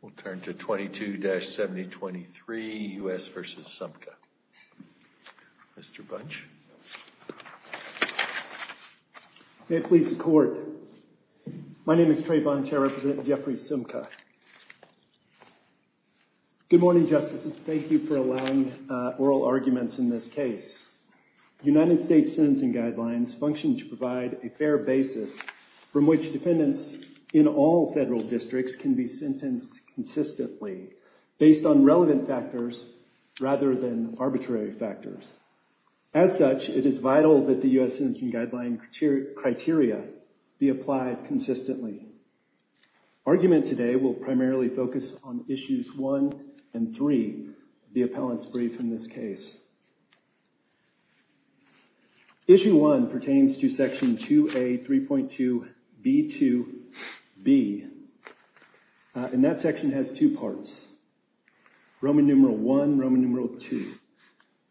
We'll turn to 22-7023, U.S. v. Sumka. Mr. Bunch. May it please the Court. My name is Trey Bunch. I represent Jeffrey Sumka. Good morning, Justice. Thank you for allowing oral arguments in this case. United States sentencing guidelines function to provide a fair basis from which defendants in all federal districts can be sentenced consistently, based on relevant factors rather than arbitrary factors. As such, it is vital that the U.S. sentencing guideline criteria be applied consistently. Argument today will primarily focus on Issues 1 and 3 of the appellant's brief in this case. Issue 1 pertains to Section 2A.3.2.B.2.B. And that section has two parts, Roman numeral I, Roman numeral II.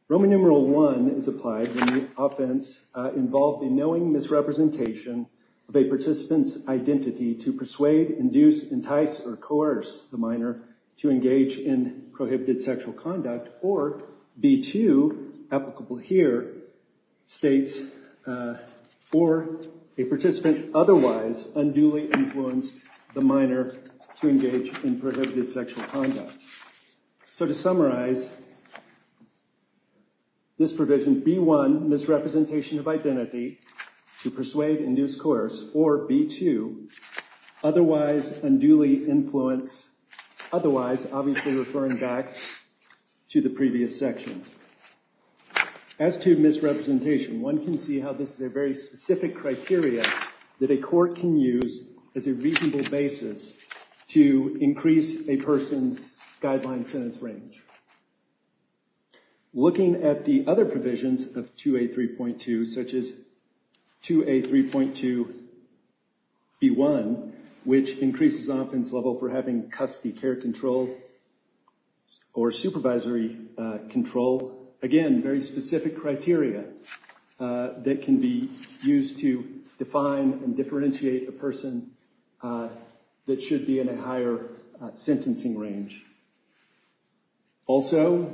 Roman numeral I is applied when the offense involved a knowing misrepresentation of a participant's identity to persuade, induce, entice, or coerce the minor to engage in prohibited sexual conduct, or B.2, applicable here, states, or a participant otherwise unduly influenced the minor to engage in prohibited sexual conduct. So to summarize this provision, B.1, misrepresentation of identity to persuade, induce, coerce, or B.2, otherwise unduly influenced, otherwise, obviously referring back to the previous section. As to misrepresentation, one can see how this is a very specific criteria that a court can use as a reasonable basis to increase a person's guideline sentence range. Looking at the other provisions of 2A.3.2, such as 2A.3.2.B.1, which increases offense level for having custody care control or supervisory control, again, very specific criteria that can be used to define and differentiate a person that should be in a higher sentencing range. Also,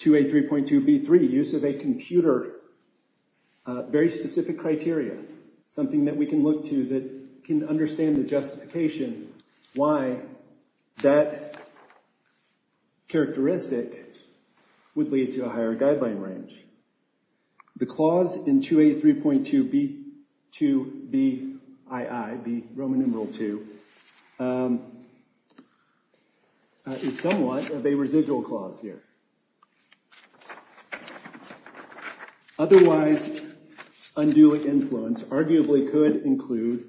2A.3.2.B.3, use of a computer, very specific criteria, something that we can look to that can understand the justification why that characteristic would lead to a higher guideline range. The clause in 2A.3.2.B.2.B.II, B. Roman numeral II, is somewhat of a residual clause here. Otherwise unduly influenced arguably could include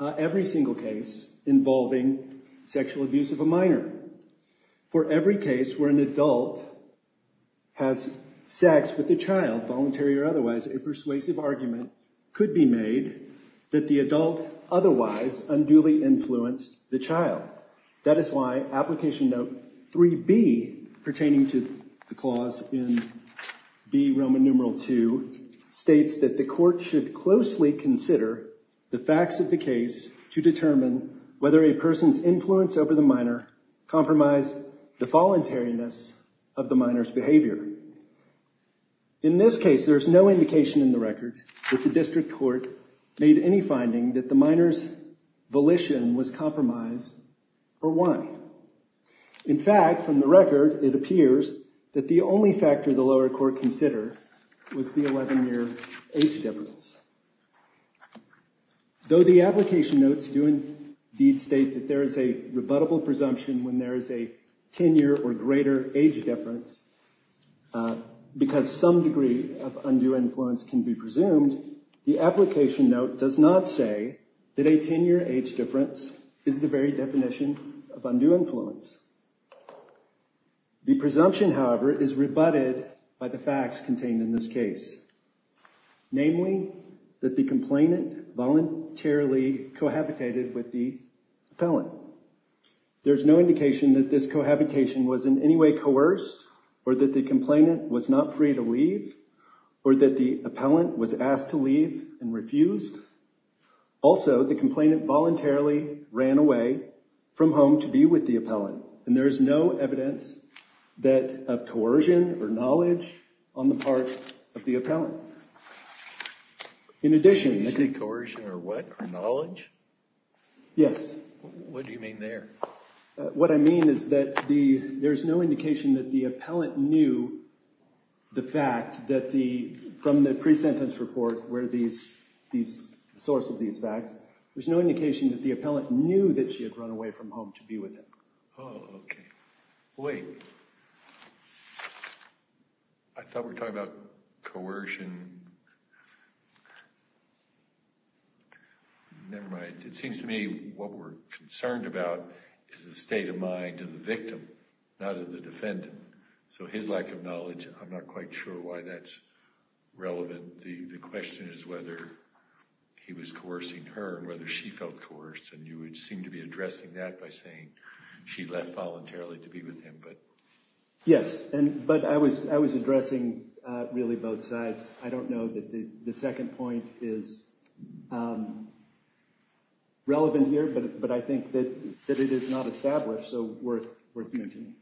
every single case involving sexual abuse of a minor. For every case where an adult has sex with a child, voluntary or otherwise, a persuasive argument could be made that the adult otherwise unduly influenced the child. That is why application note 3B, pertaining to the clause in B. Roman numeral II, states that the court should closely consider the facts of the case to determine whether a person's influence over the minor compromised the voluntariness of the minor's behavior. In this case, there's no indication in the record that the district court made any finding that the minor's volition was compromised, or why. In fact, from the record, it appears that the only factor the lower court considered was the 11-year age difference. Though the application notes do indeed state that there is a rebuttable presumption when there is a 10-year or greater age difference, because some degree of undue influence can be presumed, the application note does not say that a 10-year age difference is the very definition of undue influence. The presumption, however, is rebutted by the facts contained in this case. Namely, that the complainant voluntarily cohabitated with the appellant. There's no indication that this cohabitation was in any way coerced, or that the complainant was not free to leave, or that the appellant was asked to leave and refused. Also, the complainant voluntarily ran away from home to be with the appellant, and there is no evidence of coercion or knowledge on the part of the appellant. In addition... Is it coercion or what? Or knowledge? Yes. What do you mean there? What I mean is that there's no indication that the appellant knew the fact that the... from the pre-sentence report where these... the source of these facts, there's no indication that the appellant knew that she had run away from home to be with him. Oh, okay. Wait. I thought we were talking about coercion... Never mind. It seems to me what we're concerned about is the state of mind of the victim, not of the defendant. So his lack of knowledge, I'm not quite sure why that's relevant. The question is whether he was coercing her and whether she felt coerced, and you would seem to be addressing that by saying she left voluntarily to be with him, but... Yes, but I was addressing really both sides. I don't know that the second point is relevant here, but I think that it is not established, so worth mentioning.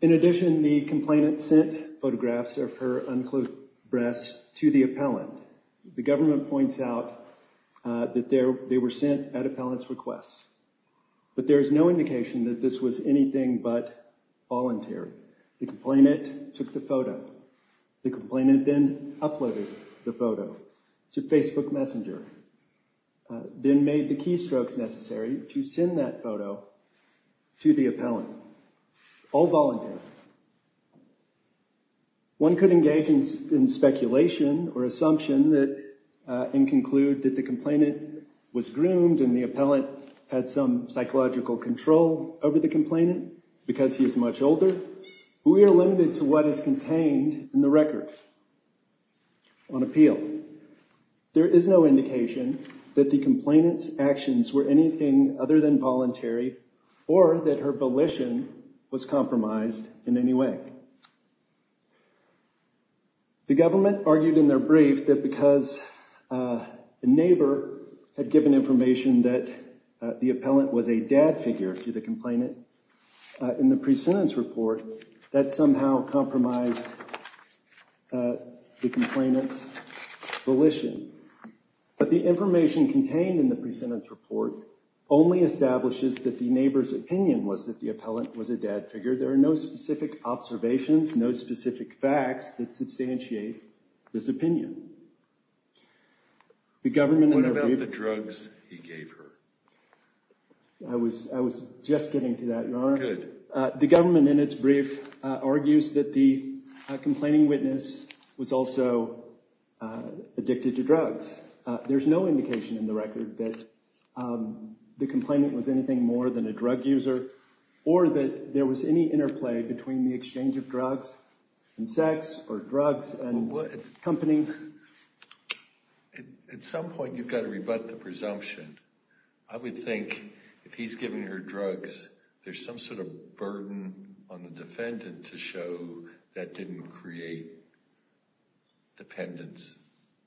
In addition, the complainant sent photographs of her unclothed breasts to the appellant. The government points out that they were sent at appellant's request. But there is no indication that this was anything but voluntary. The complainant took the photo. The complainant then uploaded the photo to Facebook Messenger, then made the keystrokes necessary to send that photo to the appellant, all voluntary. One could engage in speculation or assumption and conclude that the complainant was groomed and the appellant had some psychological control over the complainant because he is much older, but we are limited to what is contained in the record on appeal. There is no indication that the complainant's actions were anything other than voluntary or that her volition was compromised in any way. The government argued in their brief that because a neighbor had given information that the appellant was a dad figure to the complainant in the pre-sentence report, that somehow compromised the complainant's volition. But the information contained in the pre-sentence report only establishes that the neighbor's opinion was that the appellant was a dad figure. There are no specific observations, no specific facts that substantiate this opinion. What about the drugs he gave her? I was just getting to that, Your Honor. Good. The government in its brief argues that the complaining witness was also addicted to drugs. There is no indication in the record that the complainant was anything more than a drug user or that there was any interplay between the exchange of drugs and sex or drugs and company. At some point, you've got to rebut the presumption. I would think if he's giving her drugs, there's some sort of burden on the defendant to show that didn't create dependence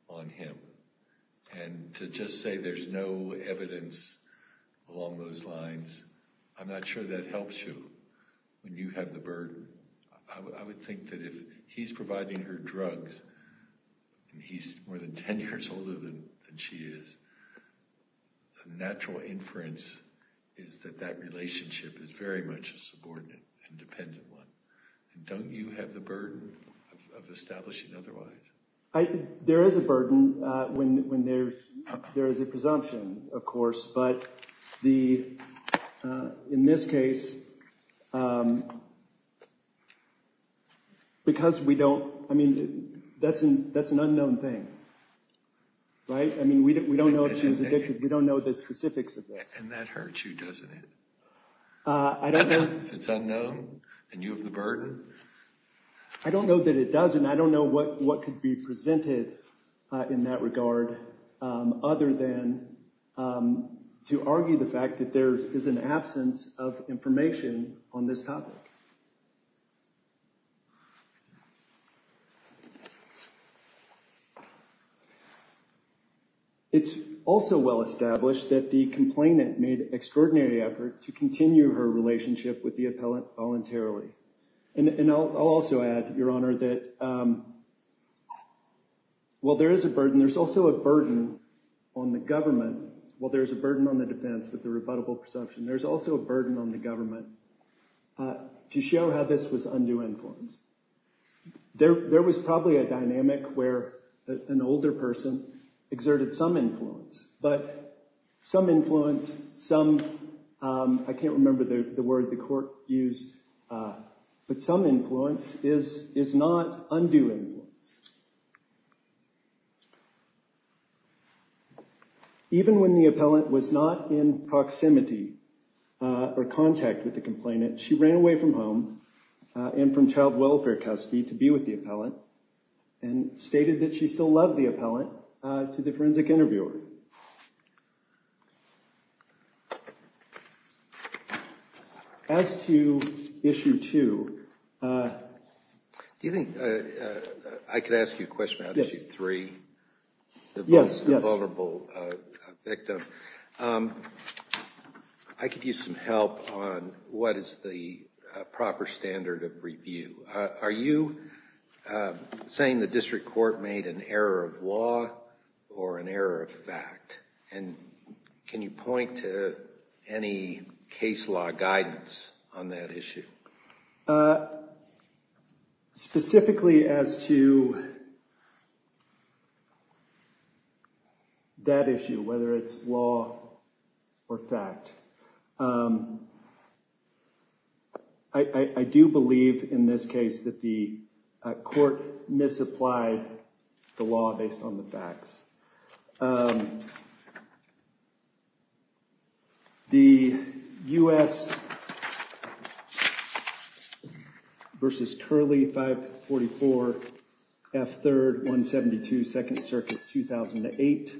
on him. And to just say there's no evidence along those lines, I'm not sure that helps you when you have the burden. I would think that if he's providing her drugs and he's more than 10 years older than she is, the natural inference is that that relationship is very much a subordinate and dependent one. Don't you have the burden of establishing otherwise? There is a burden when there is a presumption, of course. But in this case, because we don't, I mean, that's an unknown thing, right? I mean, we don't know if she was addicted. We don't know the specifics of this. And that hurts you, doesn't it? I don't know. If it's unknown and you have the burden? I don't know that it does, and I don't know what could be presented in that regard other than to argue the fact that there is an absence of information on this topic. It's also well established that the complainant made extraordinary effort to continue her relationship with the appellant voluntarily. And I'll also add, Your Honor, that while there is a burden, and there's also a burden on the government, while there's a burden on the defense with the rebuttable presumption, there's also a burden on the government to show how this was undue influence. There was probably a dynamic where an older person exerted some influence, but some influence, some, I can't remember the word the court used, but some influence is not undue influence. Even when the appellant was not in proximity or contact with the complainant, she ran away from home and from child welfare custody to be with the appellant and stated that she still loved the appellant to the forensic interviewer. As to Issue 2, Do you think I could ask you a question about Issue 3? Yes. The vulnerable victim. I could use some help on what is the proper standard of review. Are you saying the district court made an error of law or an error of fact? And can you point to any case law guidance on that issue? Specifically as to that issue, whether it's law or fact, I do believe in this case that the court misapplied the law based on the facts. The U.S. versus Curley 544 F3rd 172 2nd Circuit 2008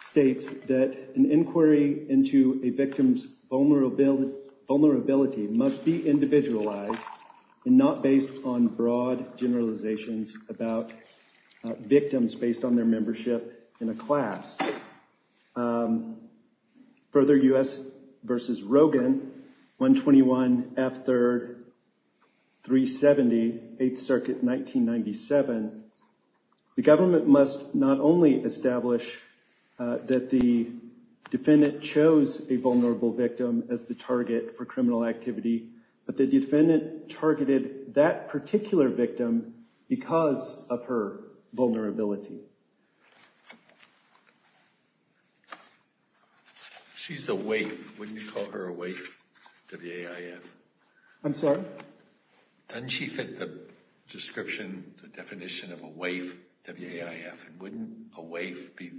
states that an inquiry into a victim's vulnerability must be individualized and not based on broad generalizations about victims based on their membership in a class. Further, U.S. versus Rogan 121 F3rd 370 8th Circuit 1997, the government must not only establish that the defendant chose a vulnerable victim as the target for criminal activity, but the defendant targeted that particular victim because of her vulnerability. She's a WAIF. Wouldn't you call her a WAIF, W-A-I-F? I'm sorry? Doesn't she fit the description, the definition of a WAIF, W-A-I-F? And wouldn't a WAIF be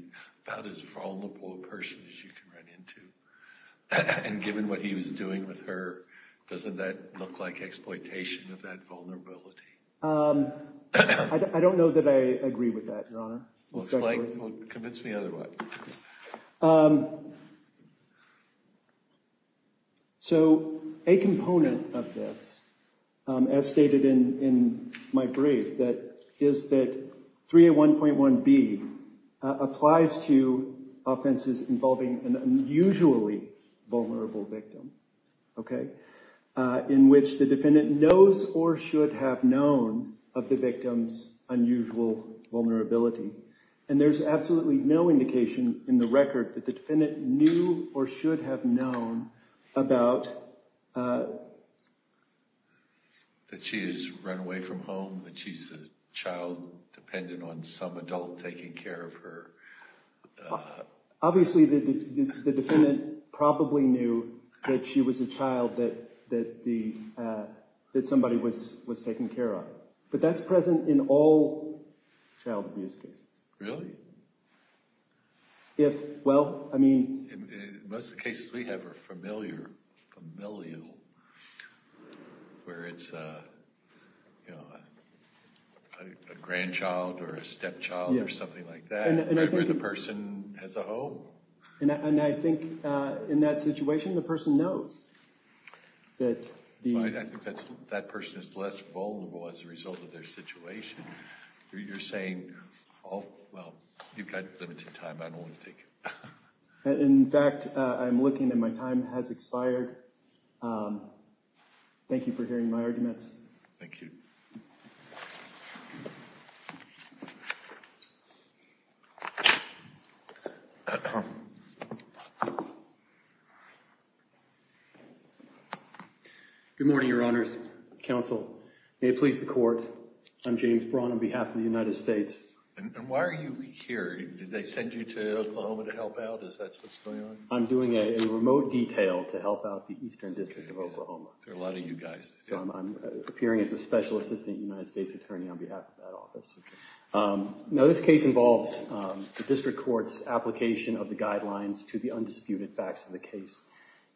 about as vulnerable a person as you can run into? And given what he was doing with her, doesn't that look like exploitation of that vulnerability? I don't know that I agree with that, Your Honor. Well, convince me otherwise. So a component of this, as stated in my brief, is that 301.1b applies to offenses involving an unusually vulnerable victim, okay, in which the defendant knows or should have known of the victim's unusual vulnerability. And there's absolutely no indication in the record that the defendant knew or should have known about that she has run away from home, that she's a child dependent on some adult taking care of her. Obviously, the defendant probably knew that she was a child that somebody was taking care of, but that's present in all child abuse cases. Really? In most of the cases we have are familial, where it's a grandchild or a stepchild or something like that, where the person has a home. And I think in that situation, the person knows. I think that person is less vulnerable as a result of their situation. You're saying, oh, well, you've got limited time. I don't want to take it. In fact, I'm looking and my time has expired. Thank you for hearing my arguments. Thank you. Good morning, Your Honors. Counsel, may it please the Court. I'm James Braun on behalf of the United States. And why are you here? Did they send you to Oklahoma to help out? Is that what's going on? I'm doing a remote detail to help out the Eastern District of Oklahoma. There are a lot of you guys. So I'm appearing as a Special Assistant United States Attorney on behalf of that office. Now, this case involves the district court's application of the guidelines to the undisputed facts of the case.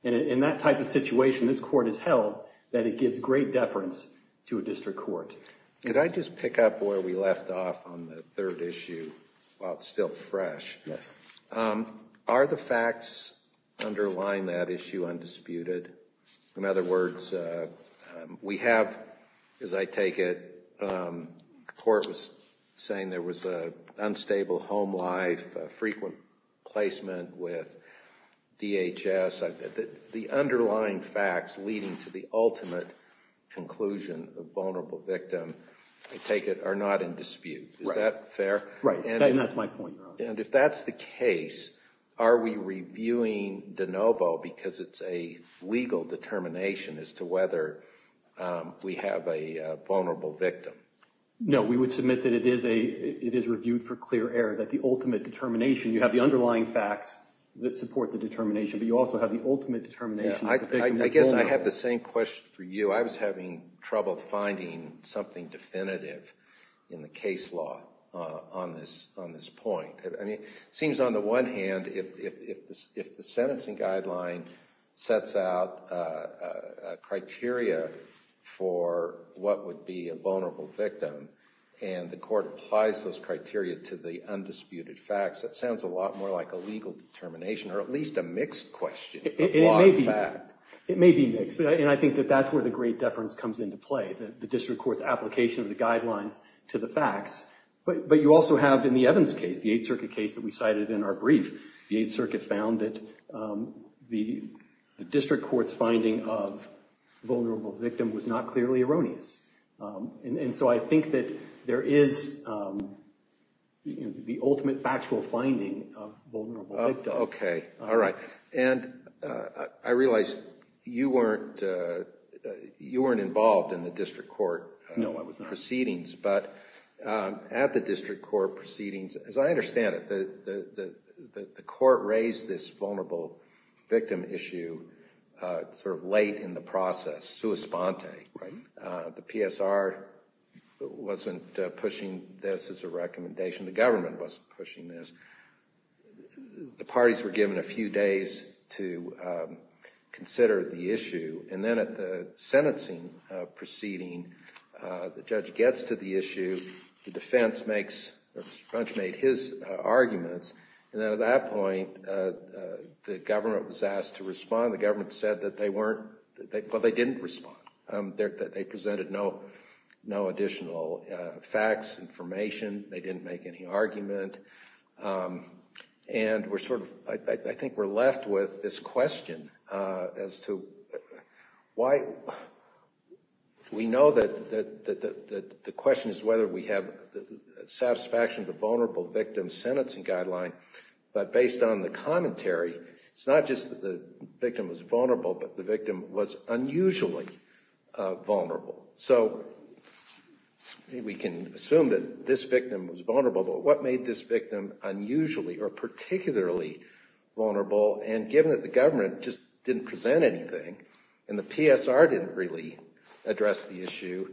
And in that type of situation, this court has held that it gives great deference to a district court. Could I just pick up where we left off on the third issue while it's still fresh? Yes. Are the facts underlying that issue undisputed? In other words, we have, as I take it, the court was saying there was an unstable home life, frequent placement with DHS. The underlying facts leading to the ultimate conclusion of vulnerable victim, I take it, are not in dispute. Is that fair? Right. And that's my point. And if that's the case, are we reviewing de novo because it's a legal determination as to whether we have a vulnerable victim? No. We would submit that it is reviewed for clear error, that the ultimate determination, you have the underlying facts that support the determination, but you also have the ultimate determination that the victim is vulnerable. I guess I have the same question for you. I was having trouble finding something definitive in the case law on this point. It seems on the one hand, if the sentencing guideline sets out criteria for what would be a vulnerable victim and the court applies those criteria to the undisputed facts, that sounds a lot more like a legal determination or at least a mixed question. It may be. It may be mixed. And I think that that's where the great deference comes into play, the district court's application of the guidelines to the facts. But you also have in the Evans case, the Eighth Circuit case that we cited in our brief, the Eighth Circuit found that the district court's finding of vulnerable victim was not clearly erroneous. And so I think that there is the ultimate factual finding of vulnerable victim. Okay. All right. And I realize you weren't involved in the district court proceedings. No, I was not. But at the district court proceedings, as I understand it, the court raised this vulnerable victim issue sort of late in the process, sua sponte. Right. The PSR wasn't pushing this as a recommendation. The government wasn't pushing this. The parties were given a few days to consider the issue. And then at the sentencing proceeding, the judge gets to the issue. The defense makes or Mr. French made his arguments. And then at that point, the government was asked to respond. The government said that they weren't – well, they didn't respond. They presented no additional facts, information. They didn't make any argument. And we're sort of – I think we're left with this question as to why – we know that the question is whether we have satisfaction of the vulnerable victim sentencing guideline. But based on the commentary, it's not just that the victim was vulnerable, but the victim was unusually vulnerable. So we can assume that this victim was vulnerable. But what made this victim unusually or particularly vulnerable? And given that the government just didn't present anything and the PSR didn't really address the issue,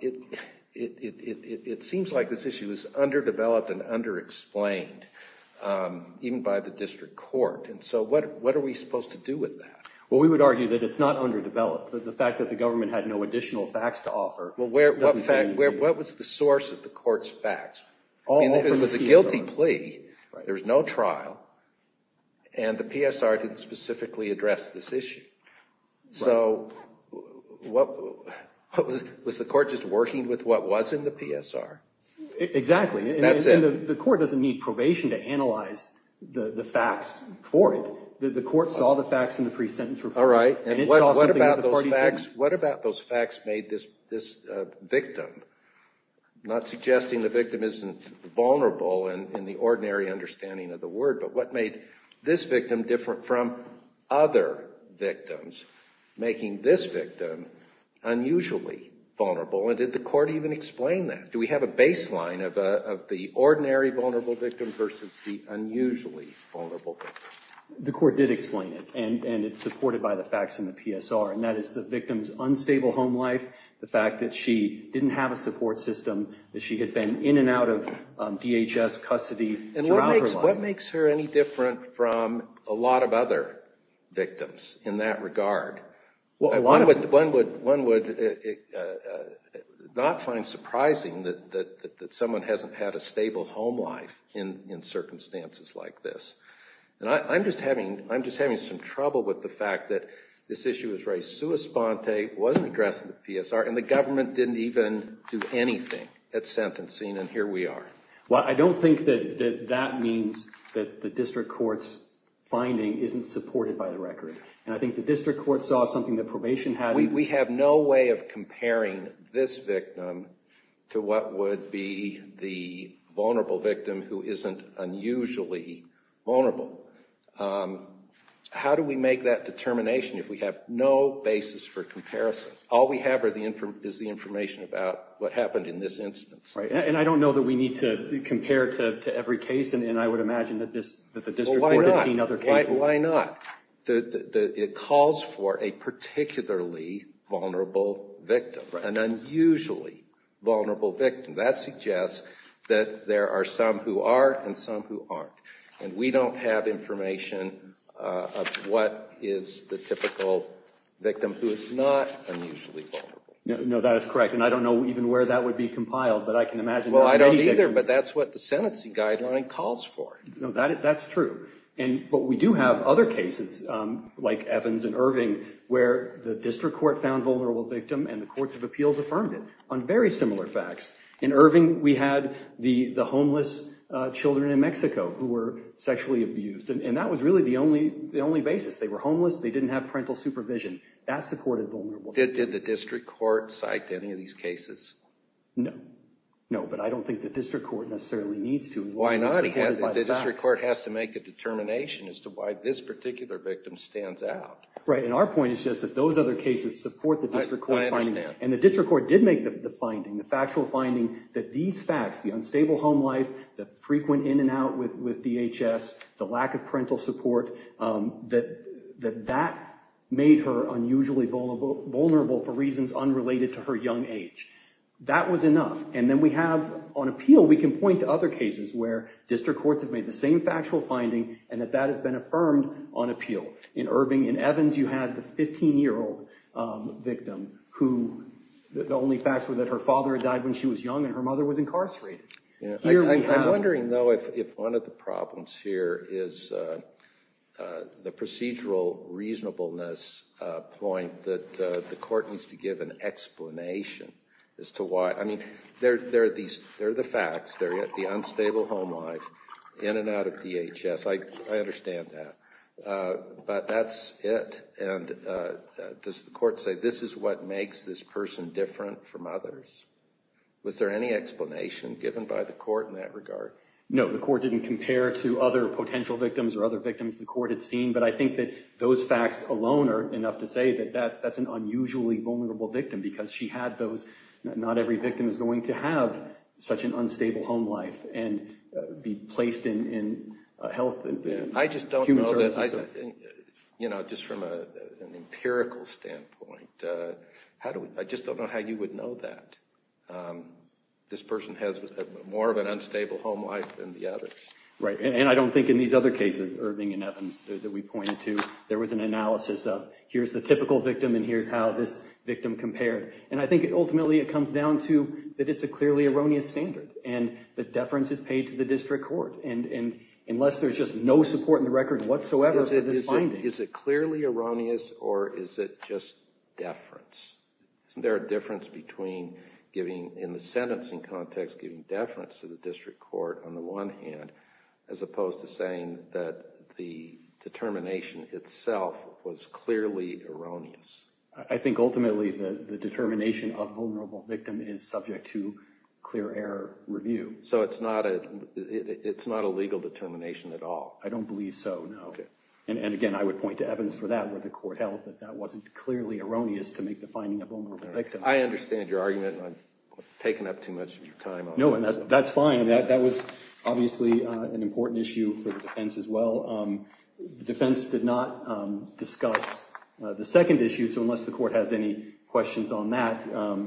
it seems like this issue is underdeveloped and underexplained even by the district court. And so what are we supposed to do with that? Well, we would argue that it's not underdeveloped. The fact that the government had no additional facts to offer doesn't say anything. Well, what was the source of the court's facts? It was a guilty plea. There was no trial. And the PSR didn't specifically address this issue. So what – was the court just working with what was in the PSR? Exactly. That's it. And the court doesn't need probation to analyze the facts for it. The court saw the facts in the pre-sentence report. All right. And it saw something that the parties didn't. And what about those facts made this victim – not suggesting the victim isn't vulnerable in the ordinary understanding of the word, but what made this victim different from other victims, making this victim unusually vulnerable? And did the court even explain that? Do we have a baseline of the ordinary vulnerable victim versus the unusually vulnerable victim? The court did explain it, and it's supported by the facts in the PSR. And that is the victim's unstable home life, the fact that she didn't have a support system, that she had been in and out of DHS custody throughout her life. What makes her any different from a lot of other victims in that regard? One would not find surprising that someone hasn't had a stable home life in circumstances like this. And I'm just having some trouble with the fact that this issue was raised sua sponte, wasn't addressed in the PSR, and the government didn't even do anything at sentencing, and here we are. Well, I don't think that that means that the district court's finding isn't supported by the record. And I think the district court saw something that probation had. We have no way of comparing this victim to what would be the vulnerable victim who isn't unusually vulnerable. How do we make that determination if we have no basis for comparison? All we have is the information about what happened in this instance. And I don't know that we need to compare to every case, and I would imagine that the district court has seen other cases. Well, why not? It calls for a particularly vulnerable victim, an unusually vulnerable victim. That suggests that there are some who are and some who aren't. And we don't have information of what is the typical victim who is not unusually vulnerable. No, that is correct. And I don't know even where that would be compiled, but I can imagine. Well, I don't either, but that's what the sentencing guideline calls for. No, that's true. But we do have other cases like Evans and Irving where the district court found vulnerable victim and the courts of appeals affirmed it on very similar facts. In Irving, we had the homeless children in Mexico who were sexually abused, and that was really the only basis. They were homeless. They didn't have parental supervision. That supported vulnerability. Did the district court cite any of these cases? No. No, but I don't think the district court necessarily needs to as long as it's supported by the facts. Why not? The district court has to make a determination as to why this particular victim stands out. Right, and our point is just that those other cases support the district court's finding. I understand. And the district court did make the finding, the factual finding, that these facts, the unstable home life, the frequent in and out with DHS, the lack of parental support, that that made her unusually vulnerable for reasons unrelated to her young age. That was enough. And then we have on appeal, we can point to other cases where district courts have made the same factual finding and that that has been affirmed on appeal. In Irving, in Evans, you had the 15-year-old victim who the only facts were that her father died when she was young and her mother was incarcerated. I'm wondering, though, if one of the problems here is the procedural reasonableness point that the court needs to give an explanation as to why. I mean, there are the facts, the unstable home life, in and out of DHS. I understand that. But that's it. And does the court say this is what makes this person different from others? Was there any explanation given by the court in that regard? No, the court didn't compare to other potential victims or other victims the court had seen. But I think that those facts alone are enough to say that that's an unusually vulnerable victim because she had those not every victim is going to have such an unstable home life and be placed in health and human services. You know, just from an empirical standpoint, I just don't know how you would know that this person has more of an unstable home life than the others. Right. And I don't think in these other cases, Irving and Evans, that we pointed to, there was an analysis of here's the typical victim and here's how this victim compared. And I think ultimately it comes down to that it's a clearly erroneous standard. And the deference is paid to the district court. And unless there's just no support in the record whatsoever for this finding. Is it clearly erroneous or is it just deference? Isn't there a difference between giving in the sentencing context, giving deference to the district court on the one hand, as opposed to saying that the determination itself was clearly erroneous? I think ultimately the determination of vulnerable victim is subject to clear error review. So it's not a legal determination at all? I don't believe so, no. And again, I would point to Evans for that where the court held that that wasn't clearly erroneous to make the finding of a vulnerable victim. I understand your argument. I'm taking up too much of your time. No, that's fine. That was obviously an important issue for the defense as well. The defense did not discuss the second issue. So unless the court has any questions on that,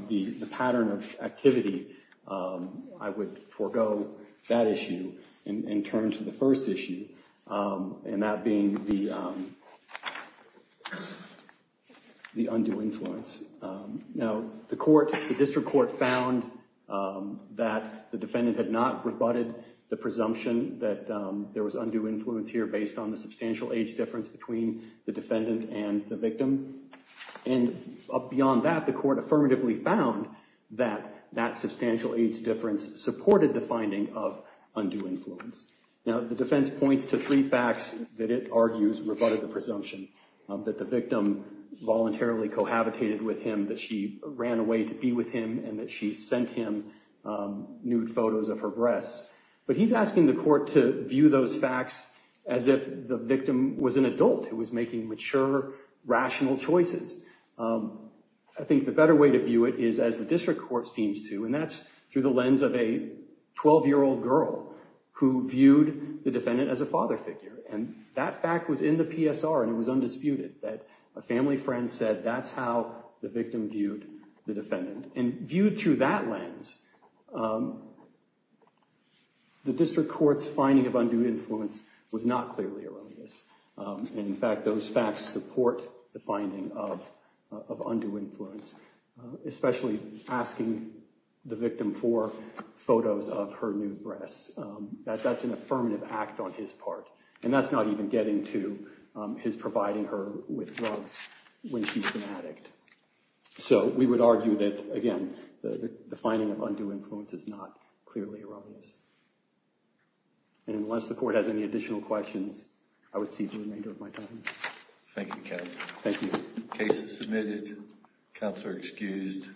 the pattern of activity, I would forego that issue and turn to the first issue. And that being the undue influence. Now, the court, the district court found that the defendant had not rebutted the presumption that there was undue influence here based on the substantial age difference between the defendant and the victim. And beyond that, the court affirmatively found that that substantial age difference supported the finding of undue influence. Now, the defense points to three facts that it argues rebutted the presumption that the victim voluntarily cohabitated with him, that she ran away to be with him, and that she sent him nude photos of her breasts. But he's asking the court to view those facts as if the victim was an adult who was making mature, rational choices. I think the better way to view it is as the district court seems to. And that's through the lens of a 12-year-old girl who viewed the defendant as a father figure. And that fact was in the PSR and it was undisputed that a family friend said that's how the victim viewed the defendant. And viewed through that lens, the district court's finding of undue influence was not clearly erroneous. And in fact, those facts support the finding of undue influence, especially asking the victim for photos of her nude breasts. That's an affirmative act on his part. And that's not even getting to his providing her with drugs when she was an addict. So we would argue that, again, the finding of undue influence is not clearly erroneous. And unless the court has any additional questions, I would cede the remainder of my time. Thank you, counsel. Thank you. Case is submitted. Counsel are excused.